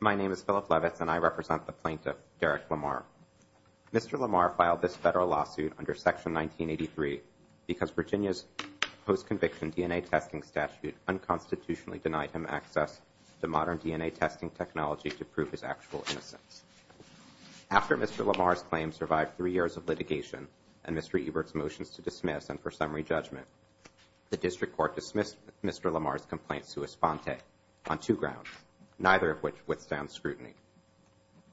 My name is Philip Levitz, and I represent the plaintiff, Derek LaMar. Mr. LaMar filed this federal lawsuit under Section 1983 because Virginia's post-conviction DNA testing statute unconstitutionally denied him access to modern DNA testing technology to prove his actual innocence. After Mr. LaMar's claim survived three years of litigation and Mr. Ebert's motions to dismiss and for summary judgment, the District Court dismissed Mr. LaMar's complaint sui sponte on two grounds, neither of which withstand scrutiny.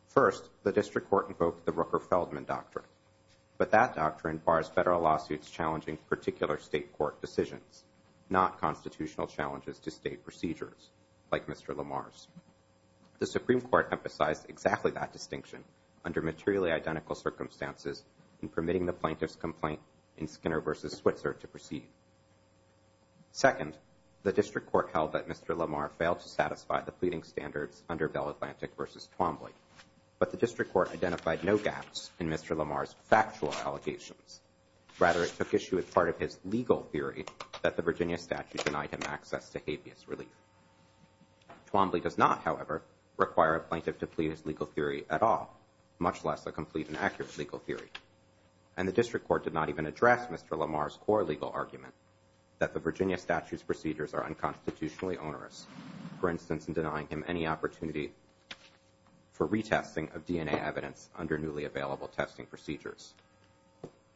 First, the District Court invoked the Rooker-Feldman Doctrine, but that doctrine bars federal lawsuits challenging particular state court decisions, not constitutional challenges to state procedures, like Mr. LaMar's. The Supreme Court emphasized exactly that distinction under materially identical circumstances in permitting the plaintiff's complaint in Skinner v. Switzer to proceed. Second, the District Court held that Mr. LaMar failed to satisfy the pleading standards under Bell Atlantic v. Twombly, but the District Court identified no gaps in Mr. LaMar's factual allegations. Rather, it took issue with part of his legal theory that the Virginia statute denied him access to habeas relief. Twombly does not, however, require a plaintiff to plead his legal theory at all, much less a complete and accurate legal theory. And the District Court did not even address Mr. LaMar's core legal argument that the Virginia statute's procedures are unconstitutionally onerous, for instance, in denying him any opportunity for retesting of DNA evidence under newly available testing procedures.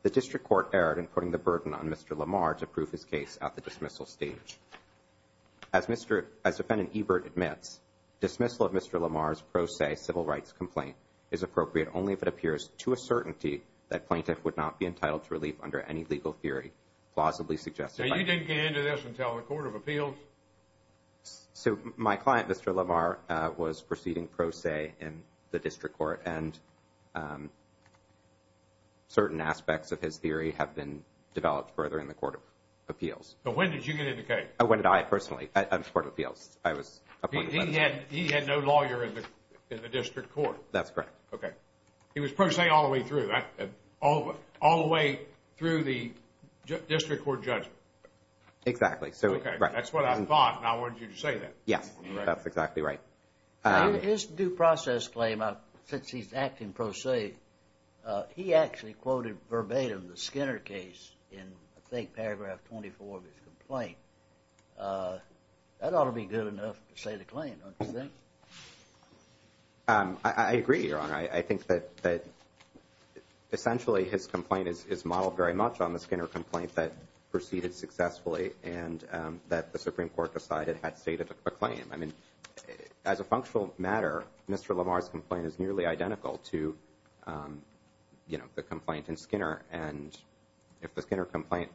The District Court erred in putting the burden on Mr. LaMar to prove his case at the dismissal stage. As Mr. – as Defendant Ebert admits, dismissal of Mr. LaMar's pro se civil rights complaint is appropriate only if it appears to a certainty that plaintiff would not be entitled to relief under any legal theory, plausibly suggested by – Now, you didn't get into this until the Court of Appeals? So my client, Mr. LaMar, was proceeding pro se in the District Court, and certain aspects of his theory have been developed further in the Court of Appeals. So when did you get into the case? When did I, personally, at the Court of Appeals? I was appointed by – He had no lawyer in the District Court? That's correct. Okay. He was pro se all the way through, all the way through the District Court judgment? Exactly. Okay, that's what I thought, and I wanted you to say that. Yes, that's exactly right. In his due process claim, since he's acting pro se, he actually quoted verbatim the Skinner case in, I think, paragraph 24 of his complaint. That ought to be good enough to say the claim, don't you think? I agree, Your Honor. I think that essentially his complaint is modeled very much on the Skinner complaint that proceeded successfully and that the Supreme Court decided had stated a claim. I mean, as a functional matter, Mr. Lamar's complaint is nearly identical to, you know, the complaint in Skinner, and if the Skinner complaint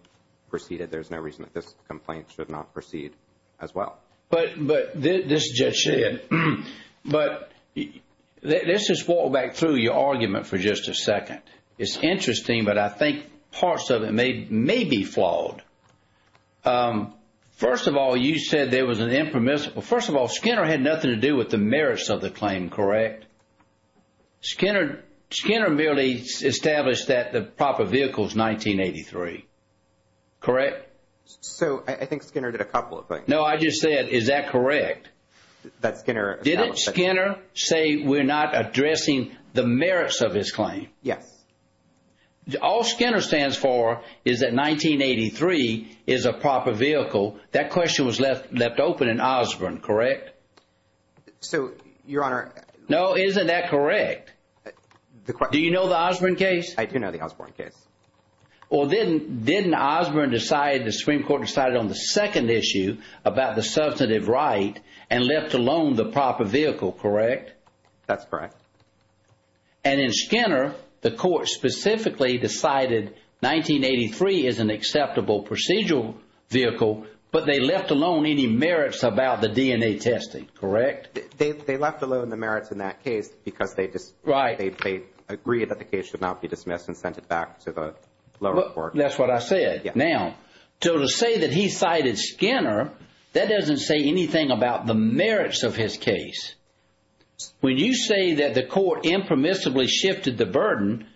proceeded, there's no reason that this complaint should not proceed as well. But this is Judge Sheehan, but let's just walk back through your argument for just a second. It's interesting, but I think parts of it may be flawed. First of all, you said there was an impermissible. First of all, Skinner had nothing to do with the merits of the claim, correct? Skinner merely established that the proper vehicle is 1983, correct? So I think Skinner did a couple of things. No, I just said, is that correct? That Skinner established that. Didn't Skinner say we're not addressing the merits of his claim? Yes. All Skinner stands for is that 1983 is a proper vehicle. That question was left open in Osborne, correct? So, Your Honor. No, isn't that correct? Do you know the Osborne case? I do know the Osborne case. Well, didn't Osborne decide, the Supreme Court decided on the second issue about the substantive right and left alone the proper vehicle, correct? That's correct. And in Skinner, the court specifically decided 1983 is an acceptable procedural vehicle, but they left alone any merits about the DNA testing, correct? They left alone the merits in that case because they agreed that the case should not be dismissed and sent it back to the lower court. That's what I said. Now, to say that he cited Skinner, that doesn't say anything about the merits of his case. When you say that the court impermissibly shifted the burden,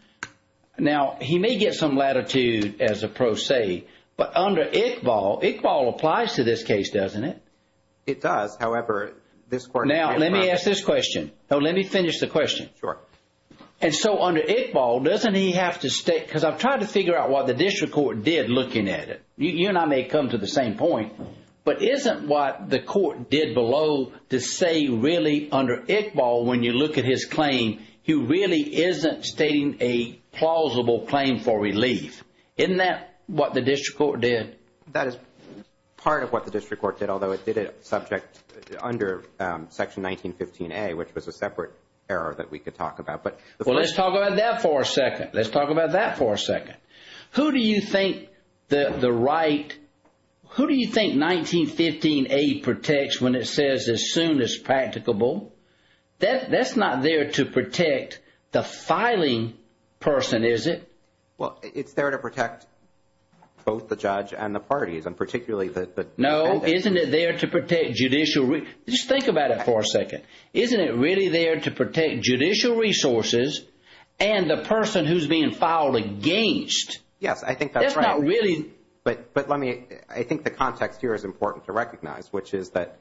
now, he may get some latitude as a pro se, but under Iqbal, Iqbal applies to this case, doesn't it? It does. However, this court— Now, let me ask this question. No, let me finish the question. Sure. And so, under Iqbal, doesn't he have to stay, because I've tried to figure out what the district court did looking at it. You and I may come to the same point, but isn't what the court did below to say really under Iqbal, when you look at his claim, he really isn't stating a plausible claim for relief. Isn't that what the district court did? That is part of what the district court did, although it did it subject under Section 1915A, which was a separate error that we could talk about. Well, let's talk about that for a second. Let's talk about that for a second. Who do you think the right—who do you think 1915A protects when it says, as soon as practicable? That's not there to protect the filing person, is it? Well, it's there to protect both the judge and the parties, and particularly the— No, isn't it there to protect judicial—just think about it for a second. Isn't it really there to protect judicial resources and the person who's being filed against? Yes, I think that's right. That's not really— But let me—I think the context here is important to recognize, which is that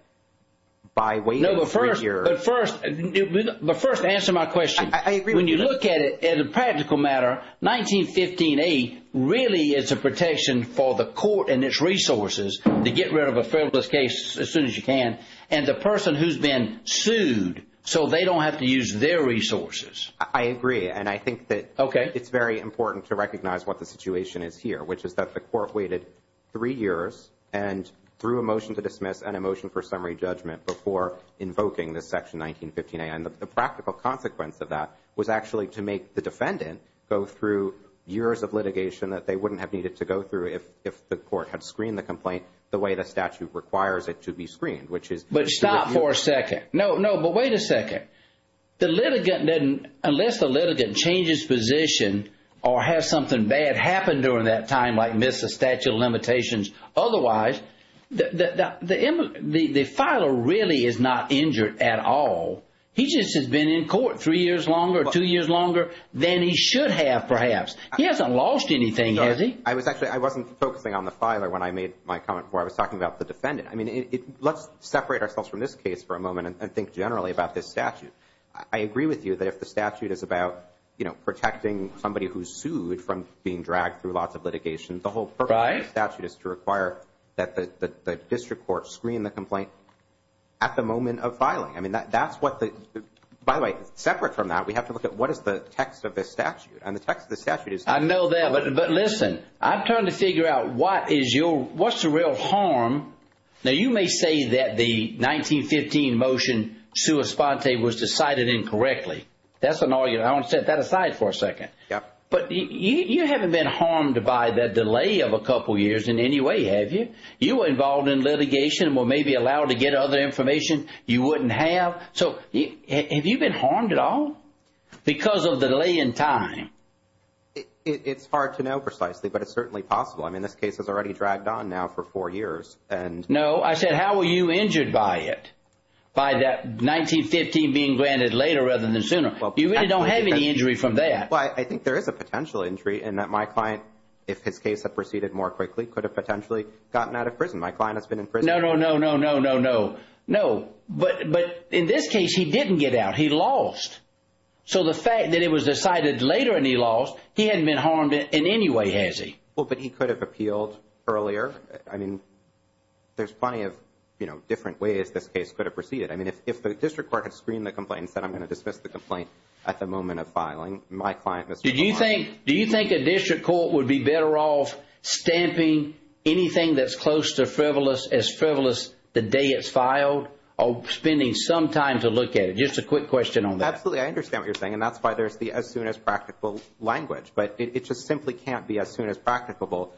by way of three years— No, but first answer my question. I agree with that. When you look at it as a practical matter, 1915A really is a protection for the court and its resources to get rid of a Federalist case as soon as you can, and the person who's been sued, so they don't have to use their resources. I agree, and I think that— Okay. It's very important to recognize what the situation is here, which is that the court waited three years and threw a motion to dismiss and a motion for summary judgment before invoking this Section 1915A. And the practical consequence of that was actually to make the defendant go through years of litigation that they wouldn't have needed to go through if the court had screened the complaint the way the statute requires it to be screened, which is— But stop for a second. No, no, but wait a second. The litigant didn't—unless the litigant changes position or has something bad happen during that time, like miss a statute of limitations, otherwise the filer really is not injured at all. He just has been in court three years longer or two years longer than he should have, perhaps. He hasn't lost anything, has he? I was actually—I wasn't focusing on the filer when I made my comment before. I was talking about the defendant. I mean, let's separate ourselves from this case for a moment and think generally about this statute. I agree with you that if the statute is about, you know, protecting somebody who's sued from being dragged through lots of litigation, the whole purpose of the statute is to require that the district court screen the complaint at the moment of filing. I mean, that's what the—by the way, separate from that, we have to look at what is the text of this statute. And the text of the statute is— I know that, but listen, I'm trying to figure out what is your—what's the real harm. Now, you may say that the 1915 motion sua sponte was decided incorrectly. That's an argument. I want to set that aside for a second. Yeah. But you haven't been harmed by the delay of a couple years in any way, have you? You were involved in litigation and were maybe allowed to get other information you wouldn't have. So have you been harmed at all because of the delay in time? It's hard to know precisely, but it's certainly possible. I mean, this case has already dragged on now for four years. No, I said how were you injured by it, by that 1915 being granted later rather than sooner? You really don't have any injury from that. Well, I think there is a potential injury in that my client, if his case had proceeded more quickly, could have potentially gotten out of prison. My client has been in prison— No, no, no, no, no, no, no. No. But in this case, he didn't get out. He lost. So the fact that it was decided later and he lost, he hadn't been harmed in any way, has he? Well, but he could have appealed earlier. I mean, there's plenty of, you know, different ways this case could have proceeded. I mean, if the district court had screened the complaint and said, here's the complaint at the moment of filing, my client— Do you think a district court would be better off stamping anything that's close to frivolous as frivolous the day it's filed or spending some time to look at it? Just a quick question on that. Absolutely. I understand what you're saying, and that's why there's the as soon as practical language. But it just simply can't be as soon as practicable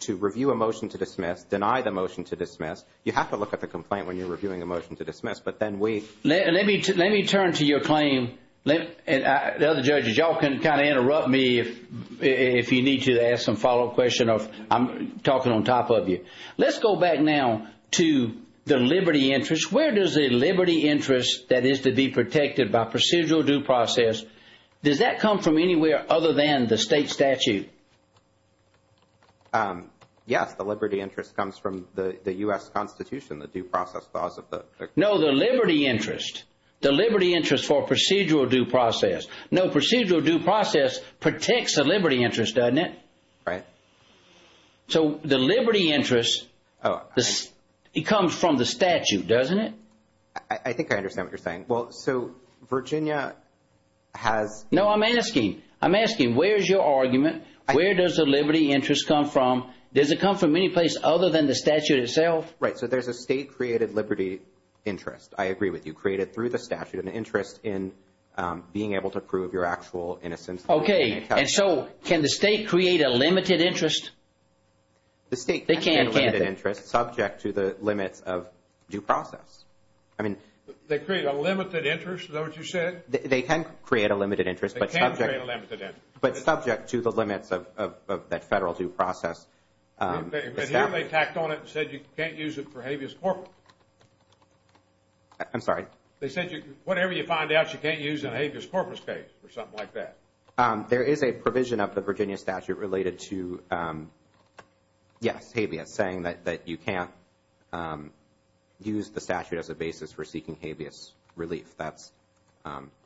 to review a motion to dismiss, deny the motion to dismiss. You have to look at the complaint when you're reviewing a motion to dismiss, but then we— Let me turn to your claim. The other judges, y'all can kind of interrupt me if you need to ask some follow-up question. I'm talking on top of you. Let's go back now to the liberty interest. Where does the liberty interest that is to be protected by procedural due process, does that come from anywhere other than the state statute? Yes, the liberty interest comes from the U.S. Constitution, the due process laws of the— No, the liberty interest. The liberty interest for procedural due process. No, procedural due process protects the liberty interest, doesn't it? Right. So the liberty interest, it comes from the statute, doesn't it? I think I understand what you're saying. Well, so Virginia has— No, I'm asking. I'm asking, where's your argument? Where does the liberty interest come from? Does it come from any place other than the statute itself? Right, so there's a state-created liberty interest, I agree with you, created through the statute, an interest in being able to prove your actual innocence. Okay, and so can the state create a limited interest? The state can create a limited interest subject to the limits of due process. I mean— They create a limited interest, is that what you said? They can create a limited interest, but subject— They can create a limited interest. But subject to the limits of that federal due process. And here they tacked on it and said you can't use it for habeas corpus. I'm sorry? They said whatever you find out, you can't use in a habeas corpus case or something like that. There is a provision of the Virginia statute related to, yes, habeas, saying that you can't use the statute as a basis for seeking habeas relief. That's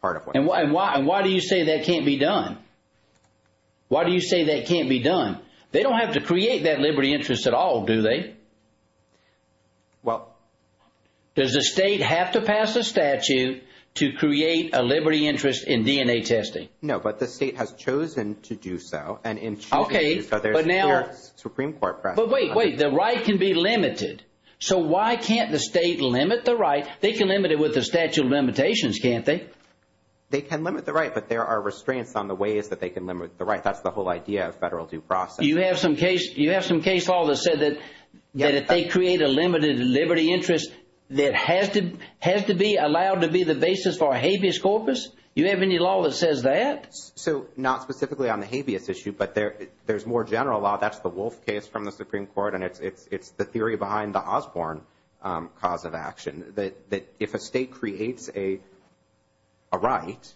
part of what— And why do you say that can't be done? Why do you say that can't be done? They don't have to create that liberty interest at all, do they? Well— Does the state have to pass a statute to create a liberty interest in DNA testing? No, but the state has chosen to do so. Okay, but now— And in choosing to do so, there's clear Supreme Court precedent. But wait, wait, the right can be limited. So why can't the state limit the right? They can limit it with the statute of limitations, can't they? They can limit the right, but there are restraints on the ways that they can limit the right. That's the whole idea of federal due process. You have some case law that said that if they create a limited liberty interest, that has to be allowed to be the basis for a habeas corpus? You have any law that says that? So not specifically on the habeas issue, but there's more general law. That's the Wolf case from the Supreme Court, and it's the theory behind the Osborne cause of action, that if a state creates a right,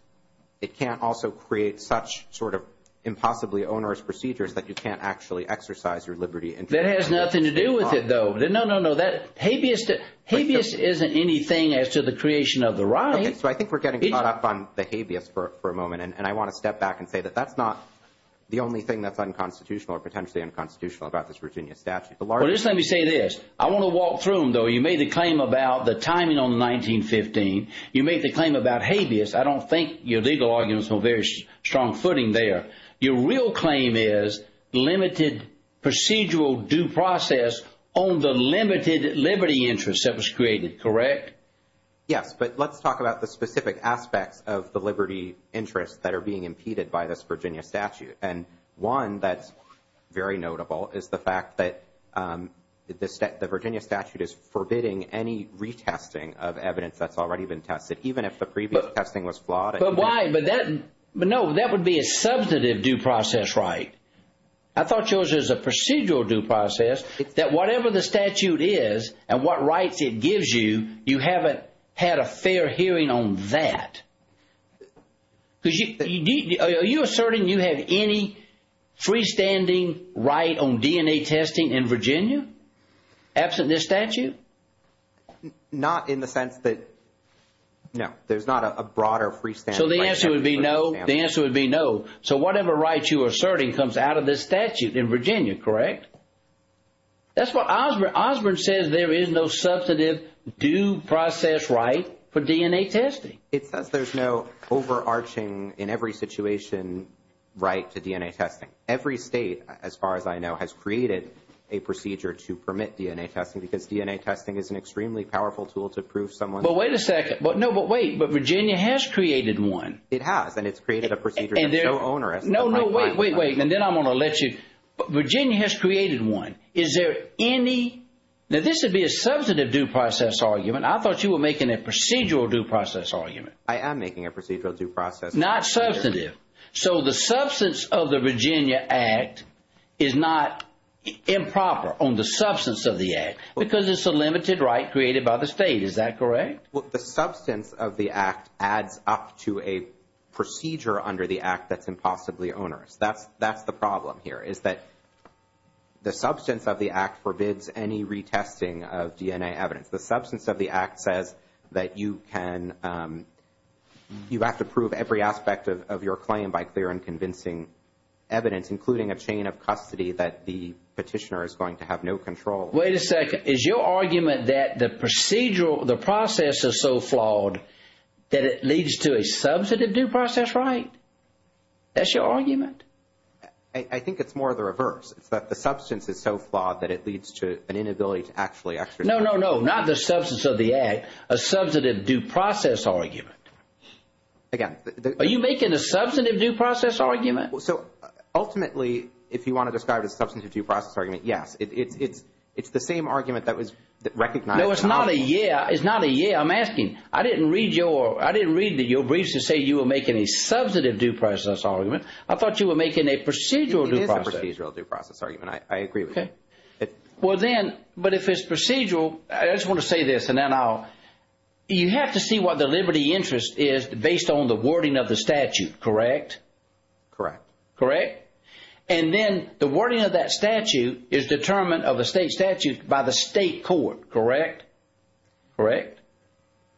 it can't also create such sort of impossibly onerous procedures that you can't actually exercise your liberty interest. That has nothing to do with it, though. No, no, no. Habeas isn't anything as to the creation of the right. Okay, so I think we're getting caught up on the habeas for a moment, and I want to step back and say that that's not the only thing that's unconstitutional or potentially unconstitutional about this Virginia statute. Well, just let me say this. I want to walk through them, though. You made the claim about the timing on 1915. You made the claim about habeas. I don't think your legal argument is on very strong footing there. Your real claim is limited procedural due process on the limited liberty interest that was created, correct? Yes, but let's talk about the specific aspects of the liberty interest that are being impeded by this Virginia statute, and one that's very notable is the fact that the Virginia statute is forbidding any retesting of evidence that's already been tested, even if the previous testing was flawed. But why? But no, that would be a substantive due process right. I thought yours was a procedural due process, that whatever the statute is and what rights it gives you, you haven't had a fair hearing on that. Are you asserting you have any freestanding right on DNA testing in Virginia, absent this statute? Not in the sense that, no, there's not a broader freestanding right. So the answer would be no. The answer would be no. So whatever right you are asserting comes out of this statute in Virginia, correct? That's what Osborne says, there is no substantive due process right for DNA testing. It says there's no overarching, in every situation, right to DNA testing. Every state, as far as I know, has created a procedure to permit DNA testing, because DNA testing is an extremely powerful tool to prove someone's right. But wait a second. No, but wait, but Virginia has created one. It has, and it's created a procedure that's so onerous. No, no, wait, wait, wait, and then I'm going to let you. Virginia has created one. Is there any, now this would be a substantive due process argument. I thought you were making a procedural due process argument. I am making a procedural due process argument. Not substantive. So the substance of the Virginia Act is not improper on the substance of the Act, because it's a limited right created by the state, is that correct? Well, the substance of the Act adds up to a procedure under the Act that's impossibly onerous. That's the problem here, is that the substance of the Act forbids any retesting of DNA evidence. The substance of the Act says that you can, you have to prove every aspect of your claim by clear and convincing evidence, including a chain of custody that the petitioner is going to have no control over. Wait a second. Is your argument that the procedural, the process is so flawed that it leads to a substantive due process right? That's your argument? I think it's more of the reverse. It's that the substance is so flawed that it leads to an inability to actually exercise it. No, no, no. Not the substance of the Act. A substantive due process argument. Again. Are you making a substantive due process argument? So ultimately, if you want to describe it as a substantive due process argument, yes. It's the same argument that was recognized. No, it's not a yeah. It's not a yeah. I'm asking. I didn't read your briefs to say you were making a substantive due process argument. I thought you were making a procedural due process. It is a procedural due process argument. I agree with you. Well then, but if it's procedural, I just want to say this and then I'll. You have to see what the liberty interest is based on the wording of the statute. Correct? Correct. Correct? And then the wording of that statute is determined of the state statute by the state court. Correct? Correct?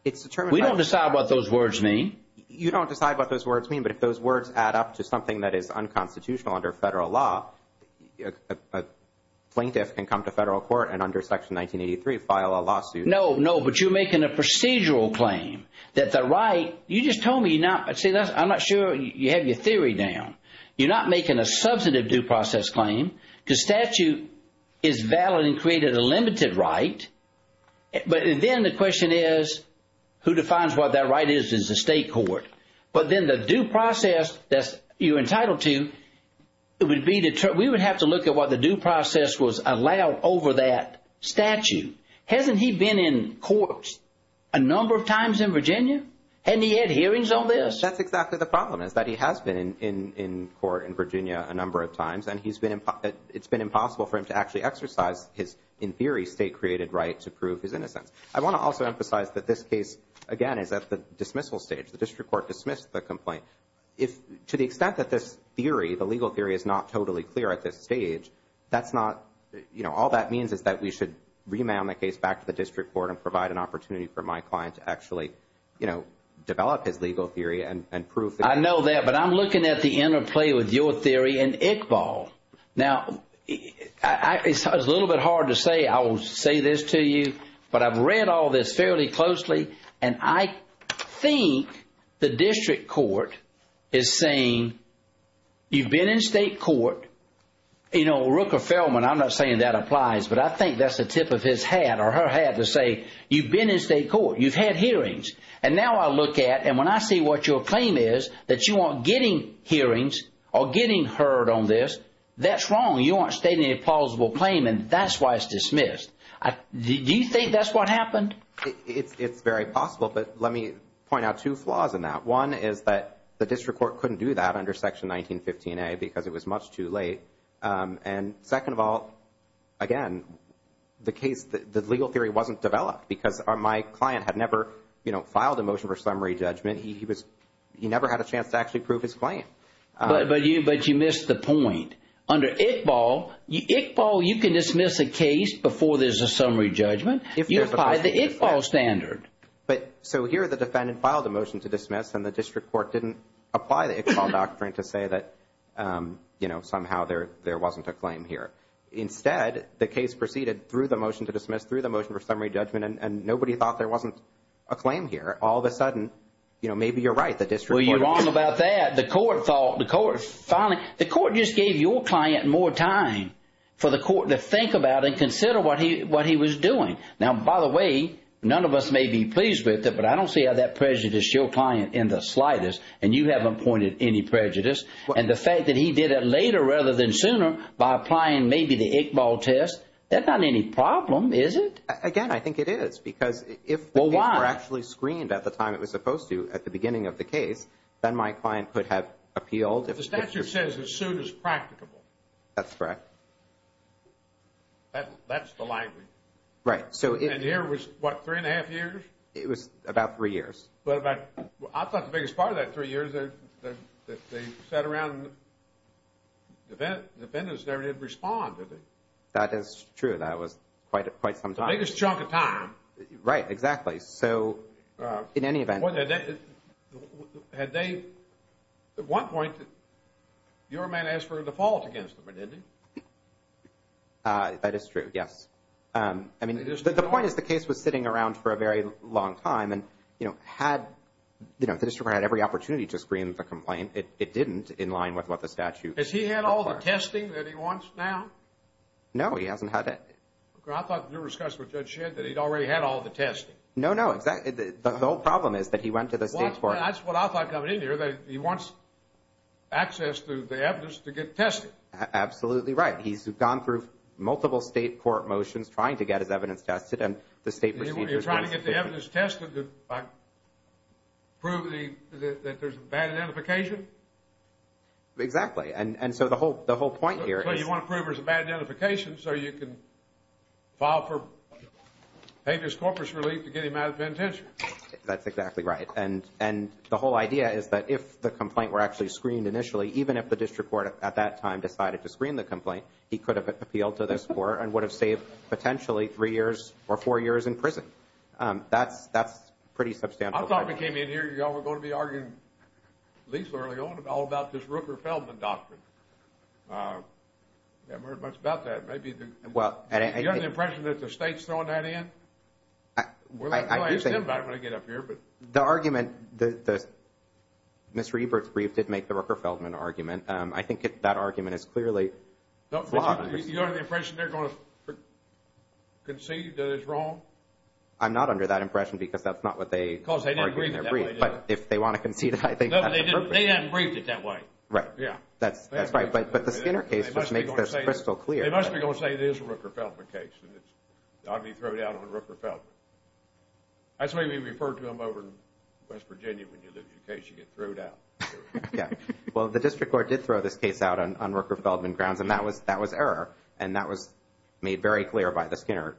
It's determined. We don't decide what those words mean. You don't decide what those words mean. But if those words add up to something that is unconstitutional under federal law, a plaintiff can come to federal court and under Section 1983 file a lawsuit. No, no. But you're making a procedural claim that the right. You just told me you're not. See, I'm not sure you have your theory down. You're not making a substantive due process claim because statute is valid and created a limited right. But then the question is who defines what that right is, is the state court. But then the due process that you're entitled to, we would have to look at what the due process was allowed over that statute. Hasn't he been in court a number of times in Virginia? Hadn't he had hearings on this? That's exactly the problem is that he has been in court in Virginia a number of times, and it's been impossible for him to actually exercise his, in theory, state-created right to prove his innocence. I want to also emphasize that this case, again, is at the dismissal stage. The district court dismissed the complaint. To the extent that this theory, the legal theory, is not totally clear at this stage, that's not, you know, all that means is that we should remand the case back to the district court and provide an opportunity for my client to actually, you know, develop his legal theory and prove. I know that, but I'm looking at the interplay with your theory and Iqbal. Now, it's a little bit hard to say, I will say this to you, but I've read all this fairly closely, and I think the district court is saying you've been in state court, you know, Rooker-Feldman, I'm not saying that applies, but I think that's the tip of his hat or her hat to say you've been in state court, you've had hearings, and now I look at, and when I see what your claim is, that you aren't getting hearings or getting heard on this, that's wrong. You aren't stating a plausible claim, and that's why it's dismissed. Do you think that's what happened? It's very possible, but let me point out two flaws in that. One is that the district court couldn't do that under Section 1915a because it was much too late. And second of all, again, the case, the legal theory wasn't developed because my client had never, you know, had a chance to actually prove his claim. But you missed the point. Under Iqbal, Iqbal, you can dismiss a case before there's a summary judgment. You apply the Iqbal standard. So here the defendant filed a motion to dismiss, and the district court didn't apply the Iqbal doctrine to say that, you know, somehow there wasn't a claim here. Instead, the case proceeded through the motion to dismiss, through the motion for summary judgment, and nobody thought there wasn't a claim here. All of a sudden, you know, maybe you're right. The district court – Well, you're wrong about that. The court thought – the court finally – the court just gave your client more time for the court to think about and consider what he was doing. Now, by the way, none of us may be pleased with it, but I don't see how that prejudiced your client in the slightest, and you haven't pointed any prejudice. And the fact that he did it later rather than sooner by applying maybe the Iqbal test, that's not any problem, is it? Again, I think it is. Because if the case were actually screened at the time it was supposed to, at the beginning of the case, then my client could have appealed. The statute says the suit is practicable. That's correct. That's the language. Right. And here was, what, three and a half years? It was about three years. I thought the biggest part of that three years is that they sat around and the defendants there did respond. That is true. That was quite some time. The biggest chunk of time. Right, exactly. So in any event. At one point your man asked for a default against him, didn't he? That is true, yes. I mean, the point is the case was sitting around for a very long time, and, you know, had the district court had every opportunity to screen the complaint, it didn't in line with what the statute requires. Has he had all the testing that he wants now? No, he hasn't had it. I thought you were discussing with Judge Shedd that he'd already had all the testing. No, no, exactly. The whole problem is that he went to the state court. That's what I thought coming in here, that he wants access to the evidence to get tested. Absolutely right. He's gone through multiple state court motions trying to get his evidence tested, and the state procedures. You're trying to get the evidence tested to prove that there's a bad identification? Exactly. And so the whole point here is. Basically, you want to prove there's a bad identification so you can file for habeas corpus relief to get him out of penitentiary. That's exactly right. And the whole idea is that if the complaint were actually screened initially, even if the district court at that time decided to screen the complaint, he could have appealed to this court and would have saved potentially three years or four years in prison. That's pretty substantial. I thought we came in here, y'all were going to be arguing, at least early on, all about this Rooker-Feldman doctrine. I haven't heard much about that. Do you have an impression that the state's throwing that in? We'll have to ask them about it when I get up here. The argument, Ms. Reber's brief did make the Rooker-Feldman argument. I think that argument is clearly flawed. Do you have the impression they're going to concede that it's wrong? I'm not under that impression because that's not what they argued in their brief. But if they want to concede, I think that's appropriate. They hadn't briefed it that way. That's right. But the Skinner case, which makes this crystal clear. They must be going to say this is a Rooker-Feldman case. It ought to be thrown out on Rooker-Feldman. That's the way we refer to them over in West Virginia when you lose your case. You get thrown out. Well, the district court did throw this case out on Rooker-Feldman grounds, and that was error, and that was made very clear by the Skinner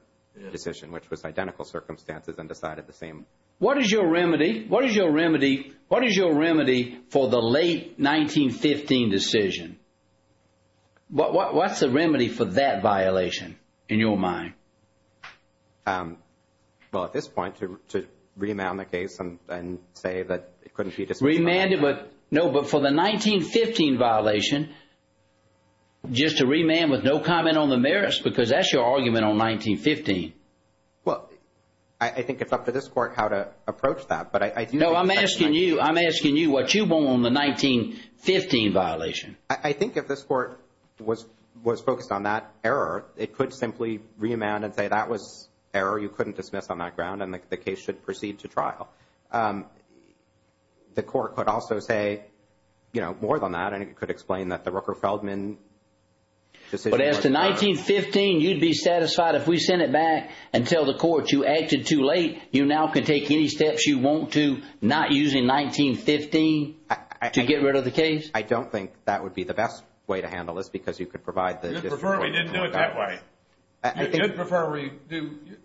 decision, which was identical circumstances and decided the same. What is your remedy for the late 1915 decision? What's the remedy for that violation in your mind? Well, at this point, to remand the case and say that it couldn't be disputed. No, but for the 1915 violation, just to remand with no comment on the merits, because that's your argument on 1915. Well, I think it's up to this Court how to approach that. No, I'm asking you what you want on the 1915 violation. I think if this Court was focused on that error, it could simply remand and say that was error, you couldn't dismiss on that ground, and the case should proceed to trial. The Court could also say, you know, more than that, and it could explain that the Rooker-Feldman decision was wrong. But as to 1915, you'd be satisfied if we sent it back and tell the Court, you acted too late, you now can take any steps you want to, not using 1915 to get rid of the case? I don't think that would be the best way to handle this, because you could provide the district court with more than that. You'd prefer we didn't do it that way. You'd prefer we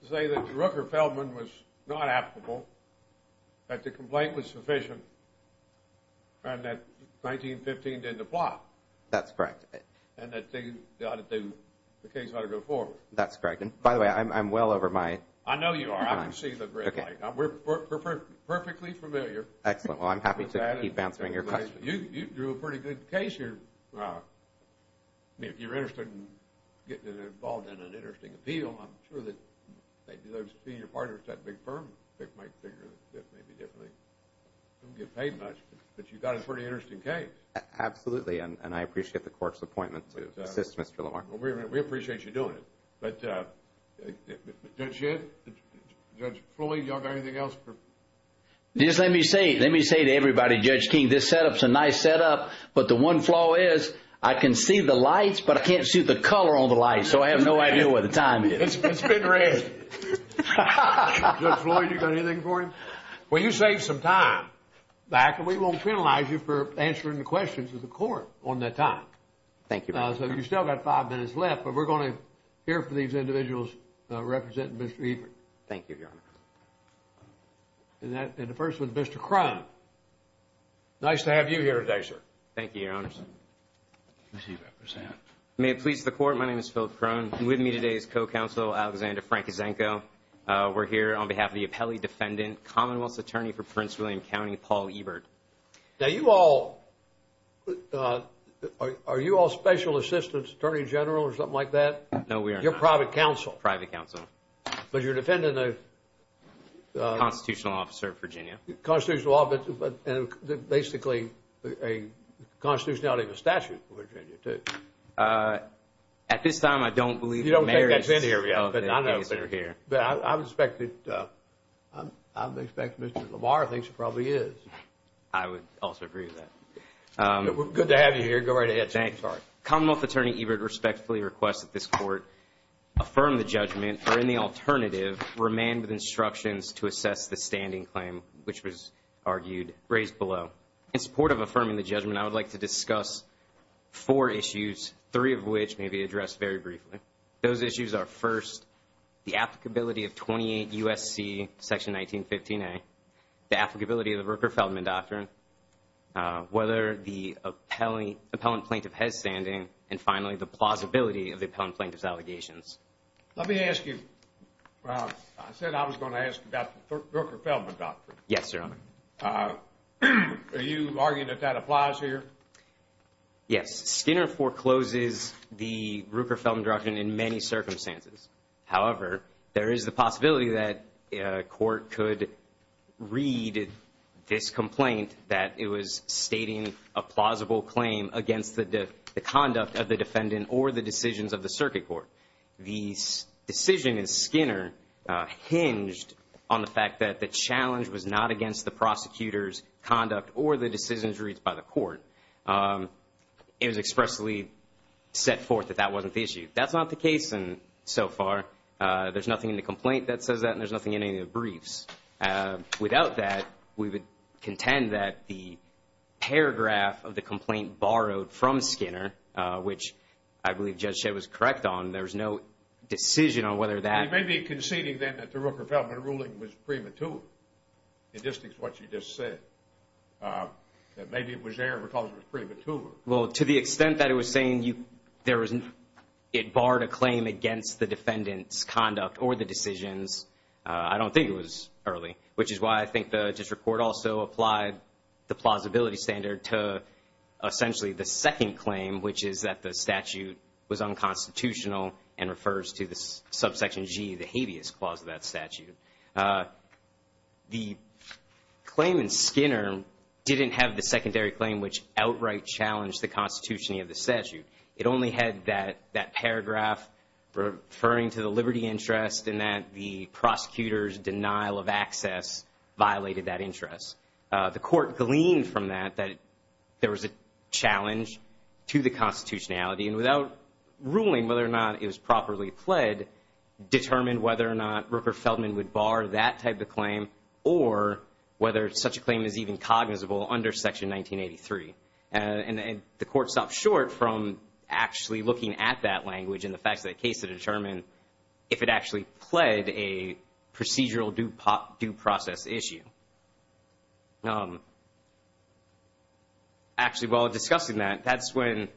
say that the Rooker-Feldman was not applicable, that the complaint was sufficient, and that 1915 did the plot. That's correct. And that the case ought to go forward. That's correct. And, by the way, I'm well over my time. I know you are. I can see the red light. We're perfectly familiar with that. Excellent. Well, I'm happy to keep answering your questions. You drew a pretty good case here. If you're interested in getting involved in an interesting appeal, I'm sure that those senior partners at that big firm might figure that maybe they don't get paid much. But you got a pretty interesting case. Absolutely. And I appreciate the Court's appointment to assist Mr. Lamar. We appreciate you doing it. But Judge Schiff, Judge Floyd, do you all have anything else? Just let me say to everybody, Judge King, this setup is a nice setup, but the one flaw is I can see the lights, but I can't see the color on the lights, so I have no idea where the time is. It's been red. Judge Floyd, you got anything for him? Well, you saved some time, and we won't penalize you for answering the questions of the Court on that time. Thank you. So you've still got five minutes left, but we're going to hear from these individuals representing Mr. Etheridge. Thank you, Your Honor. And the first one, Mr. Crum. Nice to have you here today, sir. Thank you, Your Honors. May it please the Court, my name is Philip Crum. With me today is co-counsel Alexander Frankisenko. We're here on behalf of the appellee defendant, Commonwealth's attorney for Prince William County, Paul Ebert. Now, you all, are you all special assistants, attorney general or something like that? No, we are not. You're private counsel. Private counsel. But you're defending the? Constitutional officer of Virginia. Constitutional officer, but basically a constitutionality of a statute for Virginia, too. At this time, I don't believe the mayor is. You don't think that's in here, but I know it's in here. I would expect that Mr. Lamar thinks it probably is. I would also agree with that. Good to have you here. Go right ahead, sir. Commonwealth attorney Ebert respectfully requests that this Court affirm the judgment or, in the alternative, remain with instructions to assess the standing claim, which was argued, raised below. In support of affirming the judgment, I would like to discuss four issues, three of which may be addressed very briefly. Those issues are, first, the applicability of 28 U.S.C. Section 1915A, the applicability of the Rooker-Feldman Doctrine, whether the appellant plaintiff has standing, and, finally, the plausibility of the appellant plaintiff's allegations. Let me ask you. I said I was going to ask about the Rooker-Feldman Doctrine. Yes, Your Honor. Are you arguing that that applies here? Yes. Skinner forecloses the Rooker-Feldman Doctrine in many circumstances. However, there is the possibility that a court could read this complaint that it was stating a plausible claim against the conduct of the defendant or the decisions of the circuit court. The decision in Skinner hinged on the fact that the challenge was not against the prosecutor's conduct or the decisions reached by the court. It was expressly set forth that that wasn't the issue. That's not the case so far. There's nothing in the complaint that says that, and there's nothing in any of the briefs. Without that, we would contend that the paragraph of the complaint borrowed from Skinner, which I believe Judge Shedd was correct on, there's no decision on whether that. You may be conceding then that the Rooker-Feldman ruling was premature. It just is what you just said, that maybe it was there because it was premature. Well, to the extent that it was saying it barred a claim against the defendant's conduct or the decisions, I don't think it was early, which is why I think the district court also applied the plausibility standard to essentially the second claim, which is that the statute was unconstitutional and refers to the subsection G, the habeas clause of that statute. The claim in Skinner didn't have the secondary claim, which outright challenged the constitution of the statute. It only had that paragraph referring to the liberty interest and that the prosecutor's denial of access violated that interest. The court gleaned from that that there was a challenge to the constitutionality, and without ruling whether or not it was properly pled, determined whether or not Rooker-Feldman would bar that type of claim or whether such a claim is even cognizable under Section 1983. And the court stopped short from actually looking at that language and the facts of that case to determine if it actually pled a procedural due process issue. Actually, while discussing that, that's when,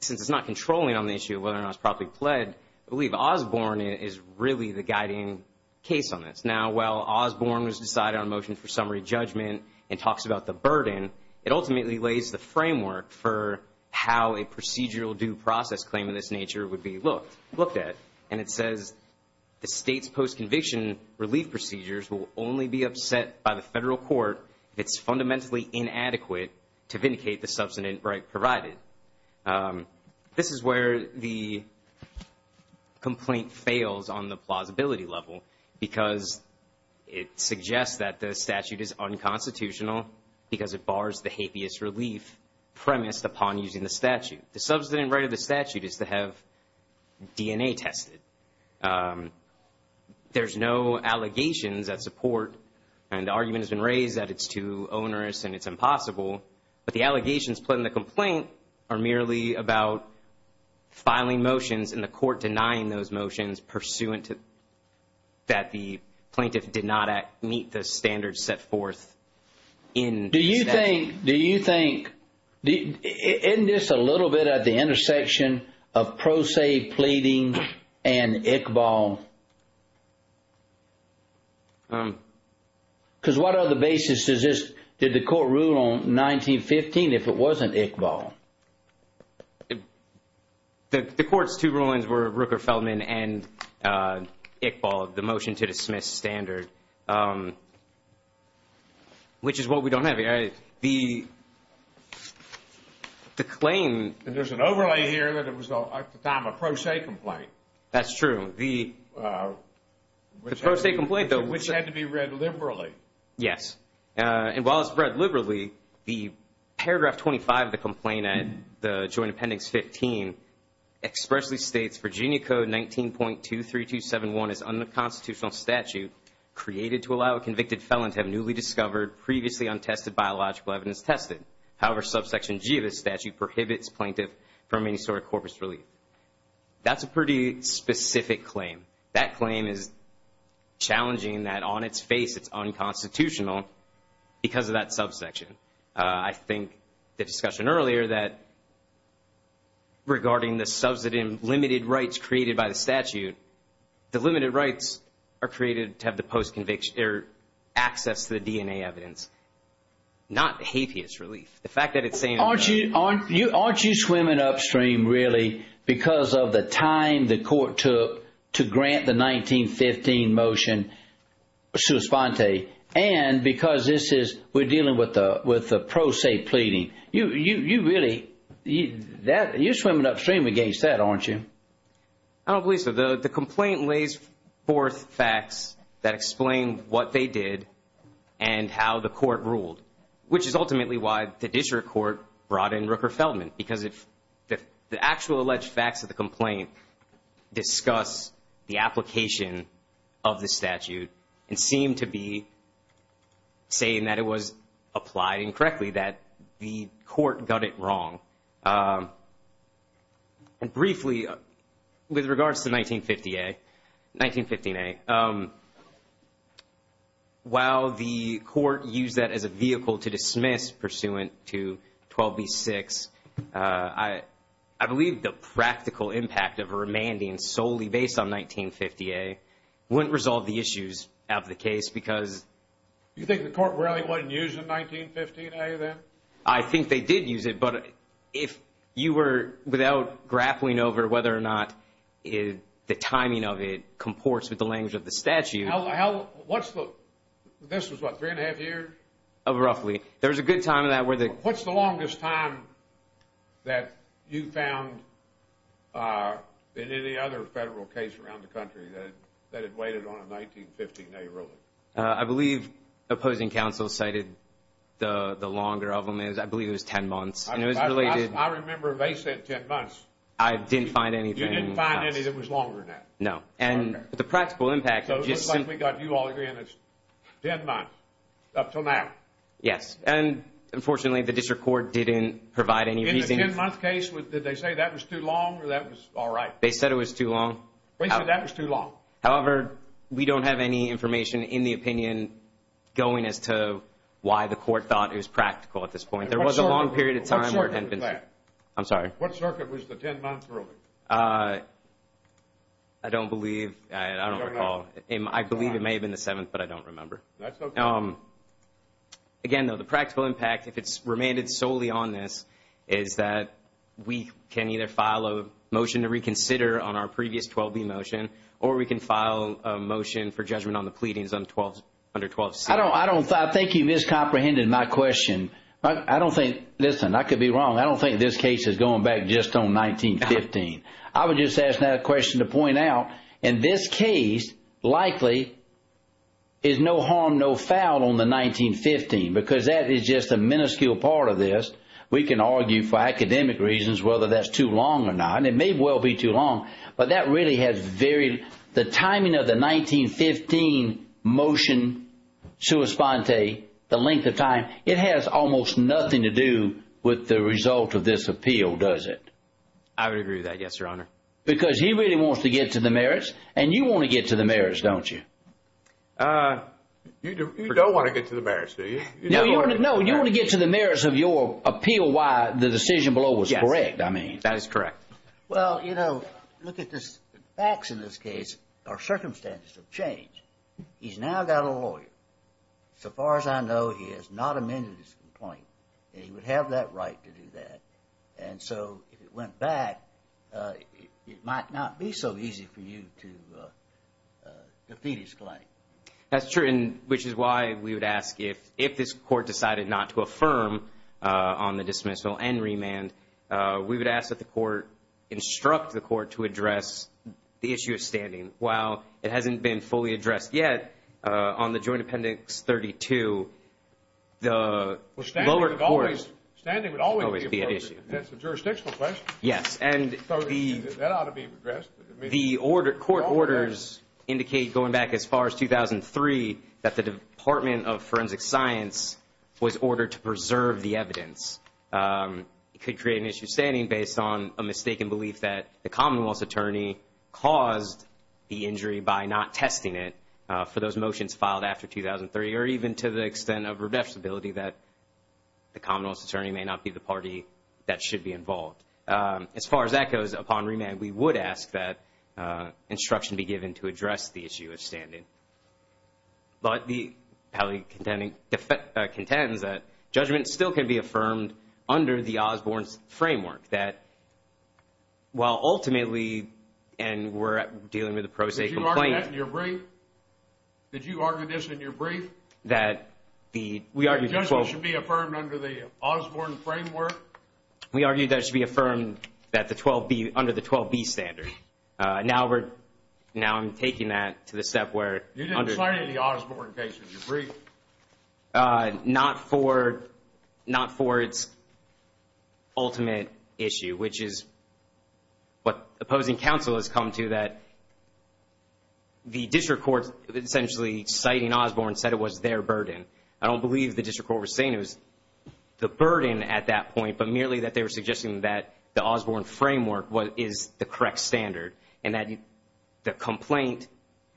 since it's not controlling on the issue of whether or not it's properly pled, I believe Osborne is really the guiding case on this. Now, while Osborne was deciding on a motion for summary judgment and talks about the burden, it ultimately lays the framework for how a procedural due process claim of this nature would be looked at. And it says the state's post-conviction relief procedures will only be upset by the federal court if it's fundamentally inadequate to vindicate the substantive right provided. This is where the complaint fails on the plausibility level because it suggests that the statute is unconstitutional because it bars the habeas relief premised upon using the statute. The substantive right of the statute is to have DNA tested. There's no allegations that support, and the argument has been raised that it's too onerous and it's impossible, but the allegations put in the complaint are merely about filing motions and the court denying those motions pursuant to that the plaintiff did not meet the standards set forth in the statute. Do you think, isn't this a little bit at the intersection of pro se pleading and Iqbal? Because what other basis is this, did the court rule on 1915 if it wasn't Iqbal? The court's two rulings were Rooker-Feldman and Iqbal, the motion to dismiss standard, which is what we don't have here. The claim... There's an overlay here that it was at the time a pro se complaint. That's true. The pro se complaint, though... Which had to be read liberally. Yes, and while it's read liberally, the paragraph 25 of the complaint, the joint appendix 15, expressly states Virginia Code 19.23271 is unconstitutional statute created to allow a convicted felon to have newly discovered previously untested biological evidence tested. However, subsection G of this statute prohibits plaintiff from any sort of corpus relief. That's a pretty specific claim. That claim is challenging that on its face it's unconstitutional because of that subsection. I think the discussion earlier that regarding the subsidy and limited rights created by the statute, the limited rights are created to have the post conviction or access to the DNA evidence, not the habeas relief. The fact that it's saying... Aren't you swimming upstream, really, because of the time the court took to grant the 1915 motion sua sponte, and because this is, we're dealing with the pro se pleading. You really, you're swimming upstream against that, aren't you? I don't believe so. The complaint lays forth facts that explain what they did and how the court ruled, which is ultimately why the district court brought in Rooker Feldman, because the actual alleged facts of the complaint discuss the application of the statute and seem to be saying that it was applied incorrectly, that the court got it wrong. Briefly, with regards to 1915A, while the court used that as a vehicle to dismiss pursuant to 12b-6, I believe the practical impact of a remanding solely based on 1950A wouldn't resolve the issues of the case, because... You think the court really wasn't using 1915A then? I think they did use it, but if you were, without grappling over whether or not the timing of it comports with the language of the statute... How, what's the, this was what, three and a half years? Roughly. There was a good time in that where the... What's the longest time that you found in any other federal case around the country that it waited on a 1915A ruling? I believe opposing counsel cited the longer of them, I believe it was 10 months, and it was related... I remember they said 10 months. I didn't find anything else. You didn't find anything that was longer than that? No. Okay. And the practical impact just... So it looks like we got you all agreeing it's 10 months, up till now. Yes, and unfortunately the district court didn't provide any reasoning... In the 10-month case, did they say that was too long, or that was all right? They said it was too long. They said that was too long. However, we don't have any information in the opinion going as to why the court thought it was practical at this point. There was a long period of time... What circuit was that? I'm sorry? What circuit was the 10 months ruling? I don't believe, I don't recall. I believe it may have been the 7th, but I don't remember. That's okay. Again, though, the practical impact, if it's remanded solely on this, is that we can either file a motion to reconsider on our previous 12B motion, or we can file a motion for judgment on the pleadings under 12C. I think you miscomprehended my question. I don't think... Listen, I could be wrong. I don't think this case is going back just on 1915. I would just ask that question to point out, in this case, likely, is no harm, no foul on the 1915, because that is just a minuscule part of this. We can argue, for academic reasons, whether that's too long or not. It may well be too long, but that really has very... The timing of the 1915 motion, sua sponte, the length of time, it has almost nothing to do with the result of this appeal, does it? I would agree with that, yes, Your Honor. Because he really wants to get to the merits, and you want to get to the merits, don't you? You don't want to get to the merits, do you? No, you want to get to the merits of your appeal why the decision below was correct, I mean. That is correct. Well, you know, look at this. The facts in this case are circumstances of change. He's now got a lawyer. So far as I know, he has not amended his complaint, and he would have that right to do that. And so if it went back, it might not be so easy for you to defeat his claim. That's true, which is why we would ask if this court decided not to affirm on the dismissal and remand, we would ask that the court instruct the court to address the issue of standing. While it hasn't been fully addressed yet, on the Joint Appendix 32, the lower court... Well, standing would always be an issue. That's a jurisdictional question. Yes. That ought to be addressed. The court orders indicate going back as far as 2003 that the Department of Forensic Science was ordered to preserve the evidence. It could create an issue of standing based on a mistaken belief that the Commonwealth's attorney caused the injury by not testing it for those motions filed after 2003, or even to the extent of redressability that the Commonwealth's attorney may not be the party that should be involved. As far as that goes, upon remand, we would ask that instruction be given to address the issue of standing. But the appellee contends that judgment still can be affirmed under the Osborne framework, that while ultimately, and we're dealing with a pro se complaint... Did you argue that in your brief? Did you argue this in your brief? That the judgment should be affirmed under the Osborne framework? We argued that it should be affirmed under the 12B standard. Now I'm taking that to the step where... You didn't cite it in the Osborne case in your brief. Not for its ultimate issue, which is what opposing counsel has come to, that the district court essentially citing Osborne said it was their burden. I don't believe the district court was saying it was the burden at that point, but merely that they were suggesting that the Osborne framework is the correct standard and that the complaint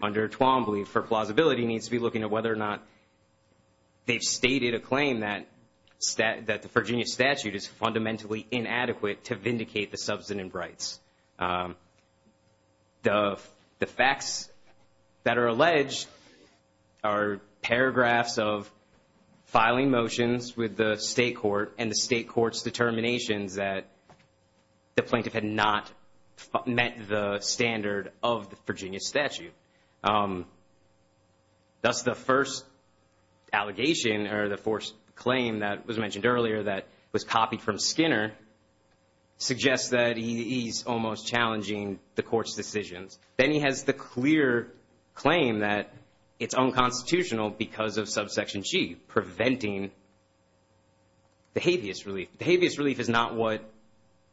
under 12B for plausibility needs to be looking at whether or not they've stated a claim that the Virginia statute is fundamentally inadequate to vindicate the substantive rights. The facts that are alleged are paragraphs of filing motions with the state court and the state court's determinations that the plaintiff had not met the standard of the Virginia statute. Thus, the first allegation or the first claim that was mentioned earlier that was copied from Skinner suggests that he's almost challenging the court's decisions. Then he has the clear claim that it's unconstitutional because of subsection G, preventing the habeas relief. The habeas relief is not what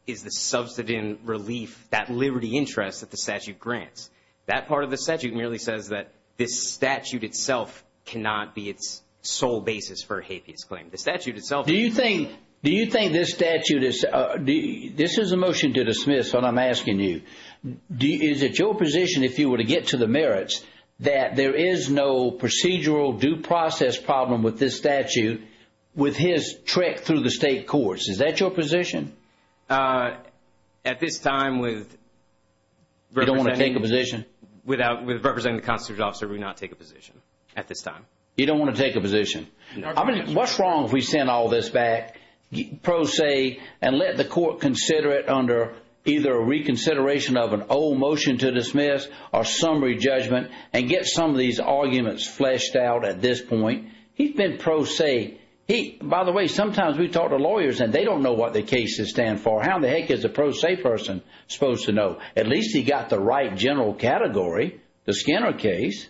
is the subsidence relief, that liberty interest that the statute grants. That part of the statute merely says that this statute itself cannot be its sole basis for a habeas claim. Do you think this statute is – this is a motion to dismiss, but I'm asking you. Is it your position, if you were to get to the merits, that there is no procedural due process problem with this statute with his trek through the state courts? Is that your position? At this time, with – You don't want to take a position? With representing the constitutional officer, we do not take a position at this time. You don't want to take a position? What's wrong if we send all this back pro se and let the court consider it under either a reconsideration of an old motion to dismiss or summary judgment and get some of these arguments fleshed out at this point? He's been pro se. By the way, sometimes we talk to lawyers and they don't know what the cases stand for. How in the heck is a pro se person supposed to know? At least he got the right general category, the Skinner case.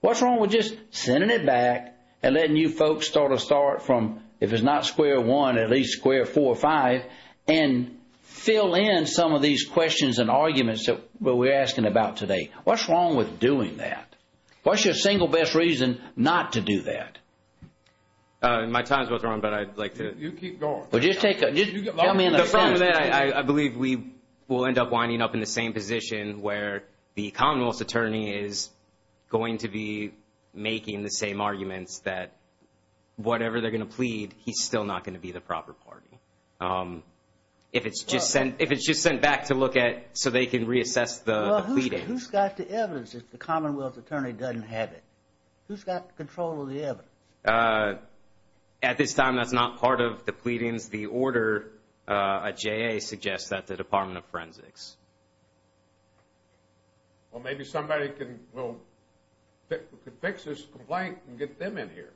What's wrong with just sending it back and letting you folks sort of start from, if it's not square one, at least square four or five and fill in some of these questions and arguments that we're asking about today? What's wrong with doing that? What's your single best reason not to do that? My time's about to run, but I'd like to – You keep going. Well, just take a – After that, I believe we will end up winding up in the same position where the Commonwealth's attorney is going to be making the same arguments that whatever they're going to plead, he's still not going to be the proper party. If it's just sent back to look at so they can reassess the pleadings. Well, who's got the evidence if the Commonwealth's attorney doesn't have it? Who's got control of the evidence? At this time, that's not part of the pleadings. The order at JA suggests that the Department of Forensics. Well, maybe somebody can fix this complaint and get them in here.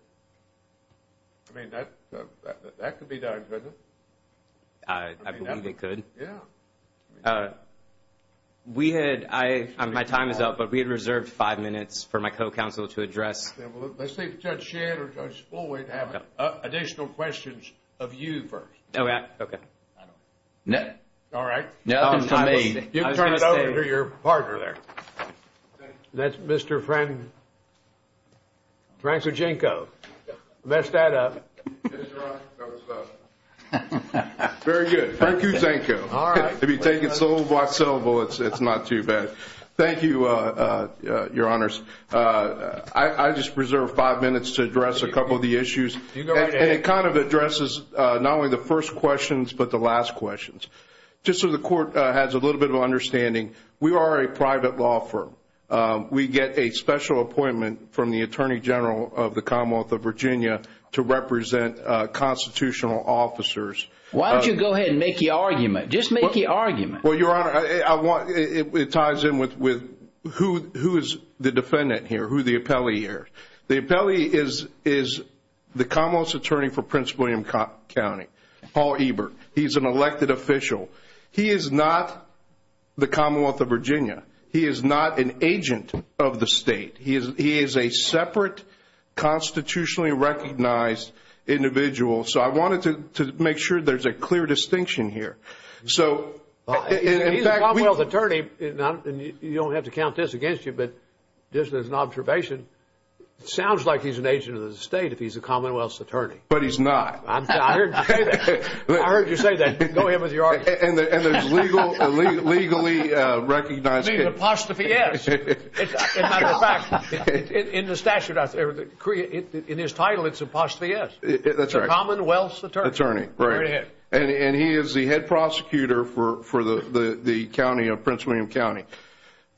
I mean, that could be done, couldn't it? I believe it could. Yeah. We had – my time is up, but we had reserved five minutes for my co-counsel to address – Let's see if Judge Shedd or Judge Fulwight have additional questions of you first. All right. Okay. All right. You can turn it over to your partner there. That's Mr. Francojinko. Messed that up. Very good. Francojinko. All right. If you take it slow, it's not too bad. Thank you, Your Honors. I just reserved five minutes to address a couple of the issues. And it kind of addresses not only the first questions, but the last questions. Just so the Court has a little bit of understanding, we are a private law firm. We get a special appointment from the Attorney General of the Commonwealth of Virginia to represent constitutional officers. Why don't you go ahead and make the argument? Just make the argument. Well, Your Honor, it ties in with who is the defendant here, who the appellee here. The appellee is the Commonwealth's Attorney for Prince William County, Paul Ebert. He's an elected official. He is not the Commonwealth of Virginia. He is not an agent of the state. He is a separate constitutionally recognized individual. So I wanted to make sure there's a clear distinction here. He's a Commonwealth Attorney. You don't have to count this against you, but just as an observation, it sounds like he's an agent of the state if he's a Commonwealth's Attorney. But he's not. I heard you say that. Go ahead with your argument. And there's legally recognized... I mean, apostrophe S. As a matter of fact, in the statute, in his title, it's apostrophe S. That's right. The Commonwealth's Attorney. Right. And he is the head prosecutor for the county of Prince William County.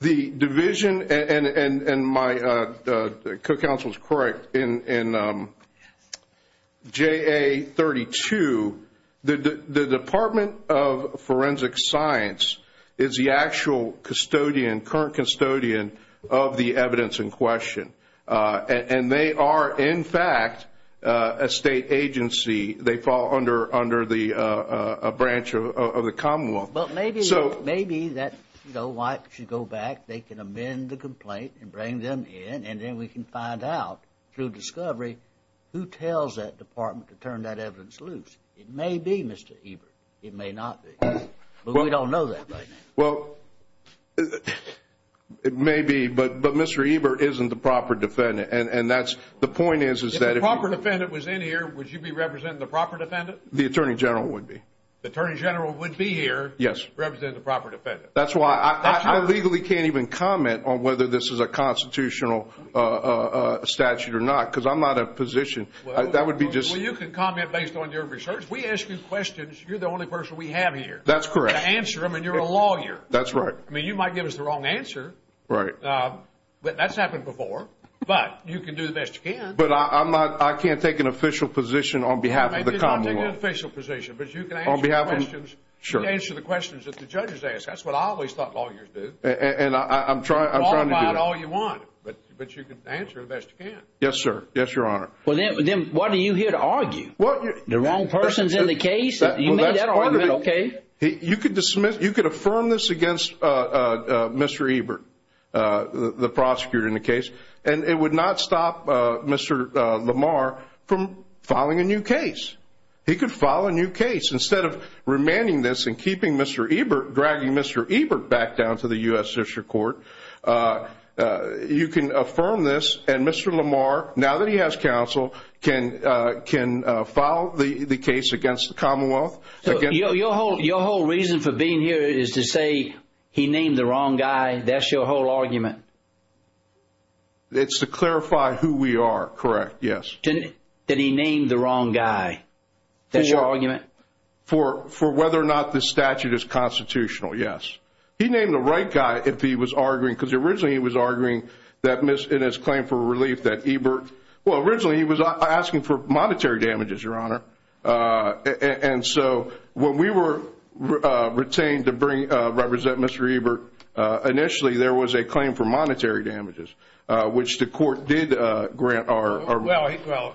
The division, and my co-counsel is correct, in JA32, the Department of Forensic Science is the actual custodian, current custodian of the evidence in question. And they are, in fact, a state agency. They fall under a branch of the Commonwealth. But maybe that white should go back. They can amend the complaint and bring them in, and then we can find out through discovery who tells that department to turn that evidence loose. It may be Mr. Ebert. It may not be. But we don't know that right now. Well, it may be. But Mr. Ebert isn't the proper defendant. And the point is, is that if... If you were here, would you be representing the proper defendant? The Attorney General would be. The Attorney General would be here representing the proper defendant? Yes. That's why I legally can't even comment on whether this is a constitutional statute or not, because I'm not in a position. That would be just... Well, you can comment based on your research. We ask you questions. You're the only person we have here. That's correct. To answer them, and you're a lawyer. That's right. I mean, you might give us the wrong answer. Right. That's happened before. But you can do the best you can. But I'm not... I can't take an official position on behalf of the Commonwealth. You may not take an official position, but you can answer the questions. On behalf of... Sure. You can answer the questions that the judges ask. That's what I always thought lawyers do. And I'm trying to do that. You can talk about it all you want, but you can answer it the best you can. Yes, sir. Yes, Your Honor. Well, then why are you here to argue? The wrong person's in the case? You made that argument okay. You could dismiss... You could affirm this against Mr. Ebert, the prosecutor in the case, and it would not stop Mr. Lamar from filing a new case. He could file a new case. Instead of remanding this and keeping Mr. Ebert... dragging Mr. Ebert back down to the U.S. District Court, you can affirm this, and Mr. Lamar, now that he has counsel, can file the case against the Commonwealth. Your whole reason for being here is to say he named the wrong guy. That's your whole argument? It's to clarify who we are, correct, yes. Then he named the wrong guy. That's your argument? For whether or not this statute is constitutional, yes. He named the right guy if he was arguing, because originally he was arguing that in his claim for relief that Ebert... Well, originally he was asking for monetary damages, Your Honor. And so when we were retained to represent Mr. Ebert, initially there was a claim for monetary damages, which the court did grant our... Well,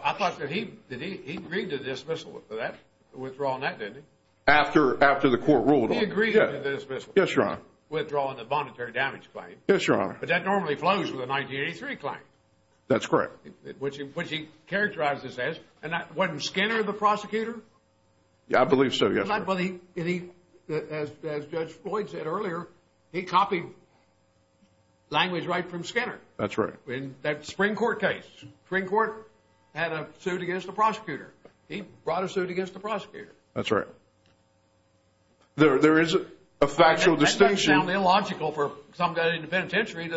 I thought that he agreed to dismissal for that, withdraw on that, didn't he? After the court ruled on it. He agreed to dismissal. Yes, Your Honor. Withdraw on the monetary damage claim. Yes, Your Honor. But that normally flows with a 1983 claim. That's correct. Which he characterized as... Wasn't Skinner the prosecutor? I believe so, yes, Your Honor. As Judge Floyd said earlier, he copied language right from Skinner. That's right. In that spring court case, spring court had a suit against the prosecutor. He brought a suit against the prosecutor. That's right. There is a factual distinction... That doesn't sound illogical for some guy in the penitentiary to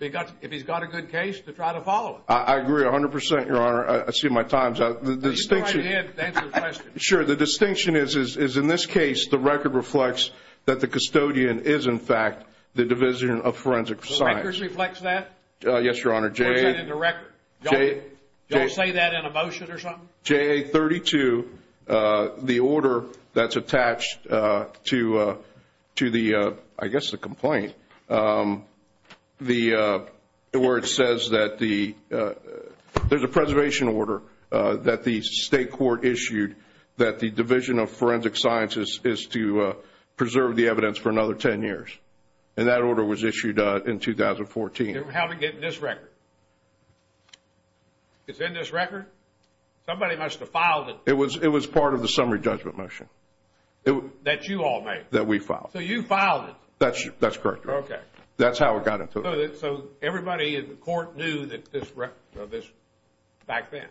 agree to, if he's got a good case, to try to follow it. I agree 100%, Your Honor. I see my time's up. The distinction... Go ahead and answer the question. Sure. The distinction is, in this case, the record reflects that the custodian is, in fact, the Division of Forensic Science. The record reflects that? Yes, Your Honor. Or is that in the record? Did y'all say that in a motion or something? J.A. 32, the order that's attached to the, I guess, the complaint, where it says that there's a preservation order that the state court issued that the Division of Forensic Science is to preserve the evidence for another 10 years. And that order was issued in 2014. How did it get in this record? It's in this record? Somebody must have filed it. It was part of the summary judgment motion. That you all made? That we filed. So you filed it? That's correct, Your Honor. Okay. That's how it got into it. So everybody in the court knew of this back then?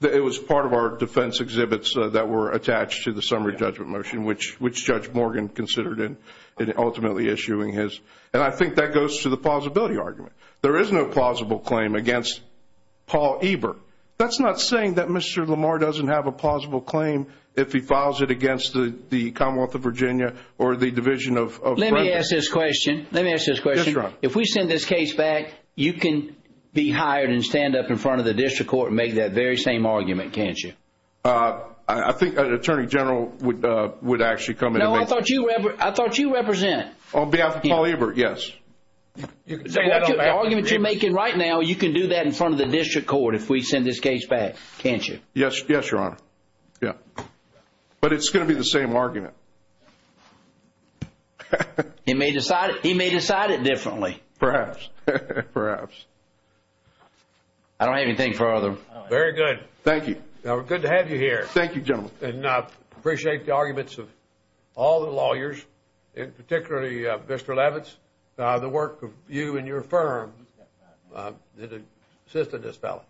It was part of our defense exhibits that were attached to the summary judgment motion, which Judge Morgan considered in ultimately issuing his. And I think that goes to the plausibility argument. There is no plausible claim against Paul Ebert. That's not saying that Mr. Lamar doesn't have a plausible claim if he files it against the Commonwealth of Virginia or the Division of Forensic. Let me ask this question. Let me ask this question. Yes, Your Honor. If we send this case back, you can be hired and stand up in front of the district court and make that very same argument, can't you? I think an attorney general would actually come in and make that. No, I thought you represented. On behalf of Paul Ebert, yes. The argument you're making right now, you can do that in front of the district court if we send this case back, can't you? Yes, Your Honor. Yes. But it's going to be the same argument. He may decide it differently. Perhaps. Perhaps. I don't have anything further. Very good. Thank you. Good to have you here. Thank you, gentlemen. And I appreciate the arguments of all the lawyers, particularly Mr. Levitz, the work of you and your firm that assisted this fellow.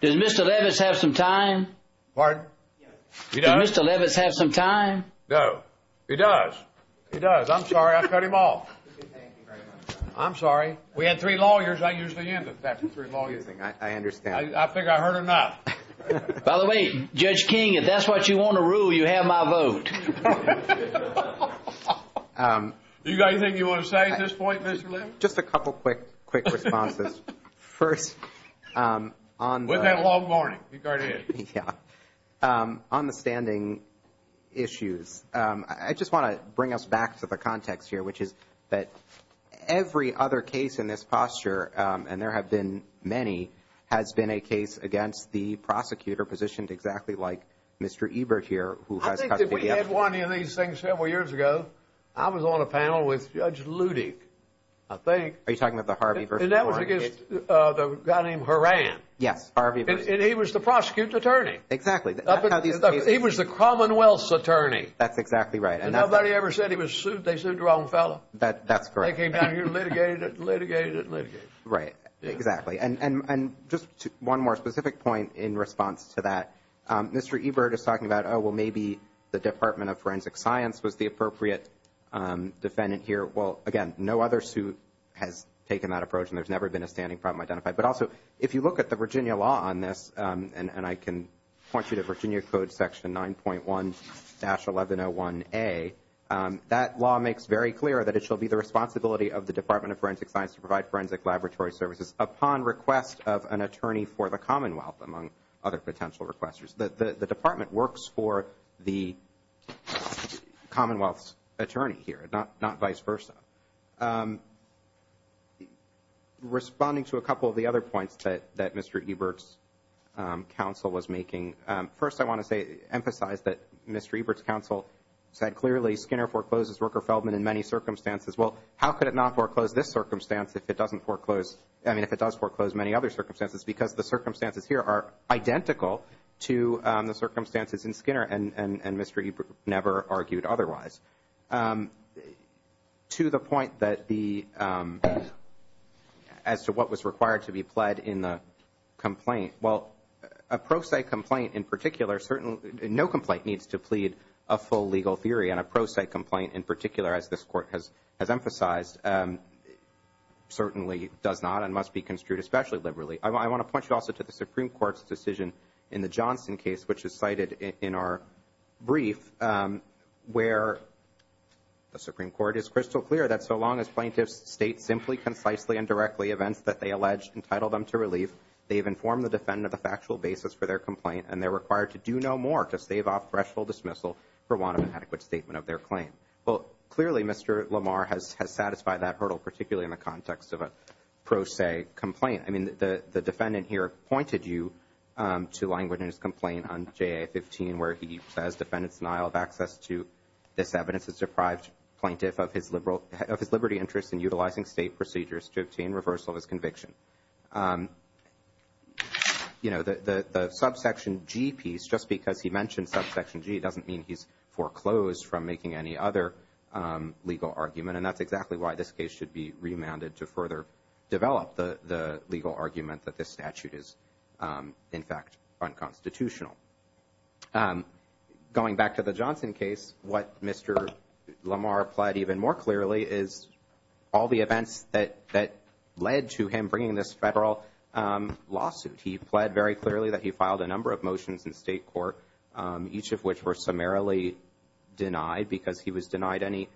Does Mr. Levitz have some time? Pardon? Does Mr. Levitz have some time? No. He does. He does. I'm sorry. I cut him off. I'm sorry. We had three lawyers. I usually end with that, the three lawyers thing. I understand. I think I heard enough. By the way, Judge King, if that's what you want to rule, you have my vote. Do you have anything you want to say at this point, Mr. Levitz? Just a couple of quick responses. First, on the— We've had a long morning. You go ahead. Yeah. On the standing issues, I just want to bring us back to the context here, which is that every other case in this posture, and there have been many, has been a case against the prosecutor positioned exactly like Mr. Ebert here, who has custody of— I think that we had one of these things several years ago. I was on a panel with Judge Ludick, I think. Are you talking about the Harvey versus Warren case? And that was against the guy named Horan. Yes, Harvey versus— And he was the prosecutor's attorney. Exactly. He was the Commonwealth's attorney. That's exactly right. And nobody ever said they sued the wrong fellow. That's correct. They came down here and litigated it and litigated it and litigated it. Right. Exactly. And just one more specific point in response to that, Mr. Ebert is talking about, oh, well, maybe the Department of Forensic Science was the appropriate defendant here. Well, again, no other suit has taken that approach, and there's never been a standing problem identified. But also, if you look at the Virginia law on this, and I can point you to Virginia Code Section 9.1-1101A, that law makes very clear that it shall be the responsibility of the Department of Forensic Science to provide forensic laboratory services upon request of an attorney for the Commonwealth, among other potential requesters. The Department works for the Commonwealth's attorney here, not vice versa. Responding to a couple of the other points that Mr. Ebert's counsel was making, first I want to emphasize that Mr. Ebert's counsel said clearly Skinner forecloses Rooker-Feldman in many circumstances. Well, how could it not foreclose this circumstance if it doesn't foreclose, I mean if it does foreclose many other circumstances, because the circumstances here are identical to the circumstances in Skinner, and Mr. Ebert never argued otherwise. To the point that the, as to what was required to be pled in the complaint, well, a pro se complaint in particular certainly, no complaint needs to plead a full legal theory, and a pro se complaint in particular, as this Court has emphasized, certainly does not and must be construed especially liberally. I want to point you also to the Supreme Court's decision in the Johnson case, which is cited in our brief where the Supreme Court is crystal clear that so long as plaintiffs state simply, concisely, and directly events that they allege entitle them to relief, they've informed the defendant of the factual basis for their complaint, and they're required to do no more to stave off threshold dismissal for want of an adequate statement of their claim. Well, clearly Mr. Lamar has satisfied that hurdle, particularly in the context of a pro se complaint. I mean the defendant here pointed you to language in his complaint on JA 15 where he says, defendants denial of access to this evidence has deprived plaintiff of his liberty interest in utilizing state procedures to obtain reversal of his conviction. You know, the subsection G piece, just because he mentioned subsection G, doesn't mean he's foreclosed from making any other legal argument, and that's exactly why this case should be remanded to further develop the legal argument that this statute is in fact unconstitutional. Going back to the Johnson case, what Mr. Lamar applied even more clearly is all the events that led to him bringing this federal lawsuit. He pled very clearly that he filed a number of motions in state court, each of which were summarily denied because he was denied any,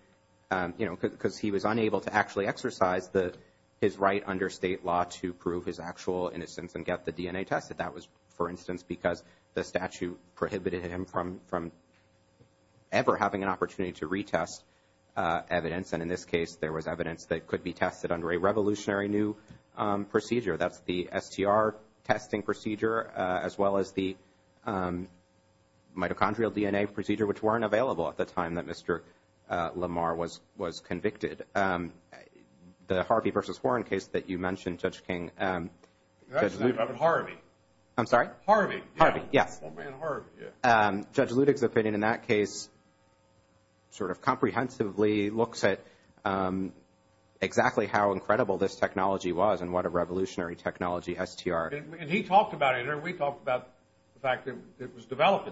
you know, because he was unable to actually exercise his right under state law to prove his actual innocence and get the DNA tested. That was, for instance, because the statute prohibited him from ever having an opportunity to retest evidence, and in this case, there was evidence that could be tested under a revolutionary new procedure. That's the STR testing procedure as well as the mitochondrial DNA procedure, which weren't available at the time that Mr. Lamar was convicted. The Harvey v. Warren case that you mentioned, Judge King. That's Harvey. I'm sorry? Harvey. Harvey, yes. Judge Ludig's opinion in that case sort of comprehensively looks at exactly how incredible this technology was and what a revolutionary technology STR. And he talked about it, and we talked about the fact that it was developed.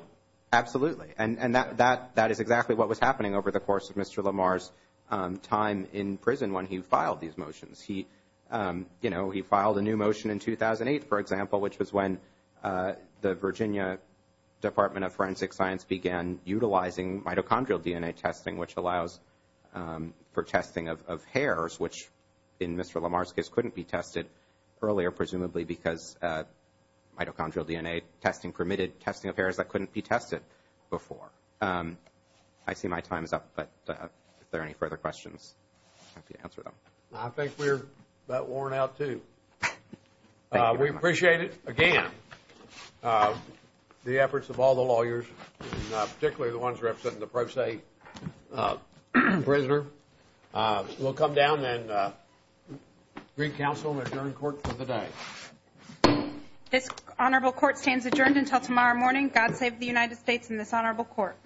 Absolutely, and that is exactly what was happening over the course of Mr. Lamar's time in prison when he filed these motions. He filed a new motion in 2008, for example, which was when the Virginia Department of Forensic Science began utilizing mitochondrial DNA testing, which allows for testing of hairs, which in Mr. Lamar's case couldn't be tested earlier, presumably, because mitochondrial DNA testing permitted testing of hairs that couldn't be tested before. I see my time is up, but if there are any further questions, I'm happy to answer them. I think we're about worn out, too. Thank you very much. We appreciate it, again, the efforts of all the lawyers, particularly the ones representing the pro se prisoner. We'll come down and read counsel and adjourn court for the day. This honorable court stands adjourned until tomorrow morning. God save the United States and this honorable court.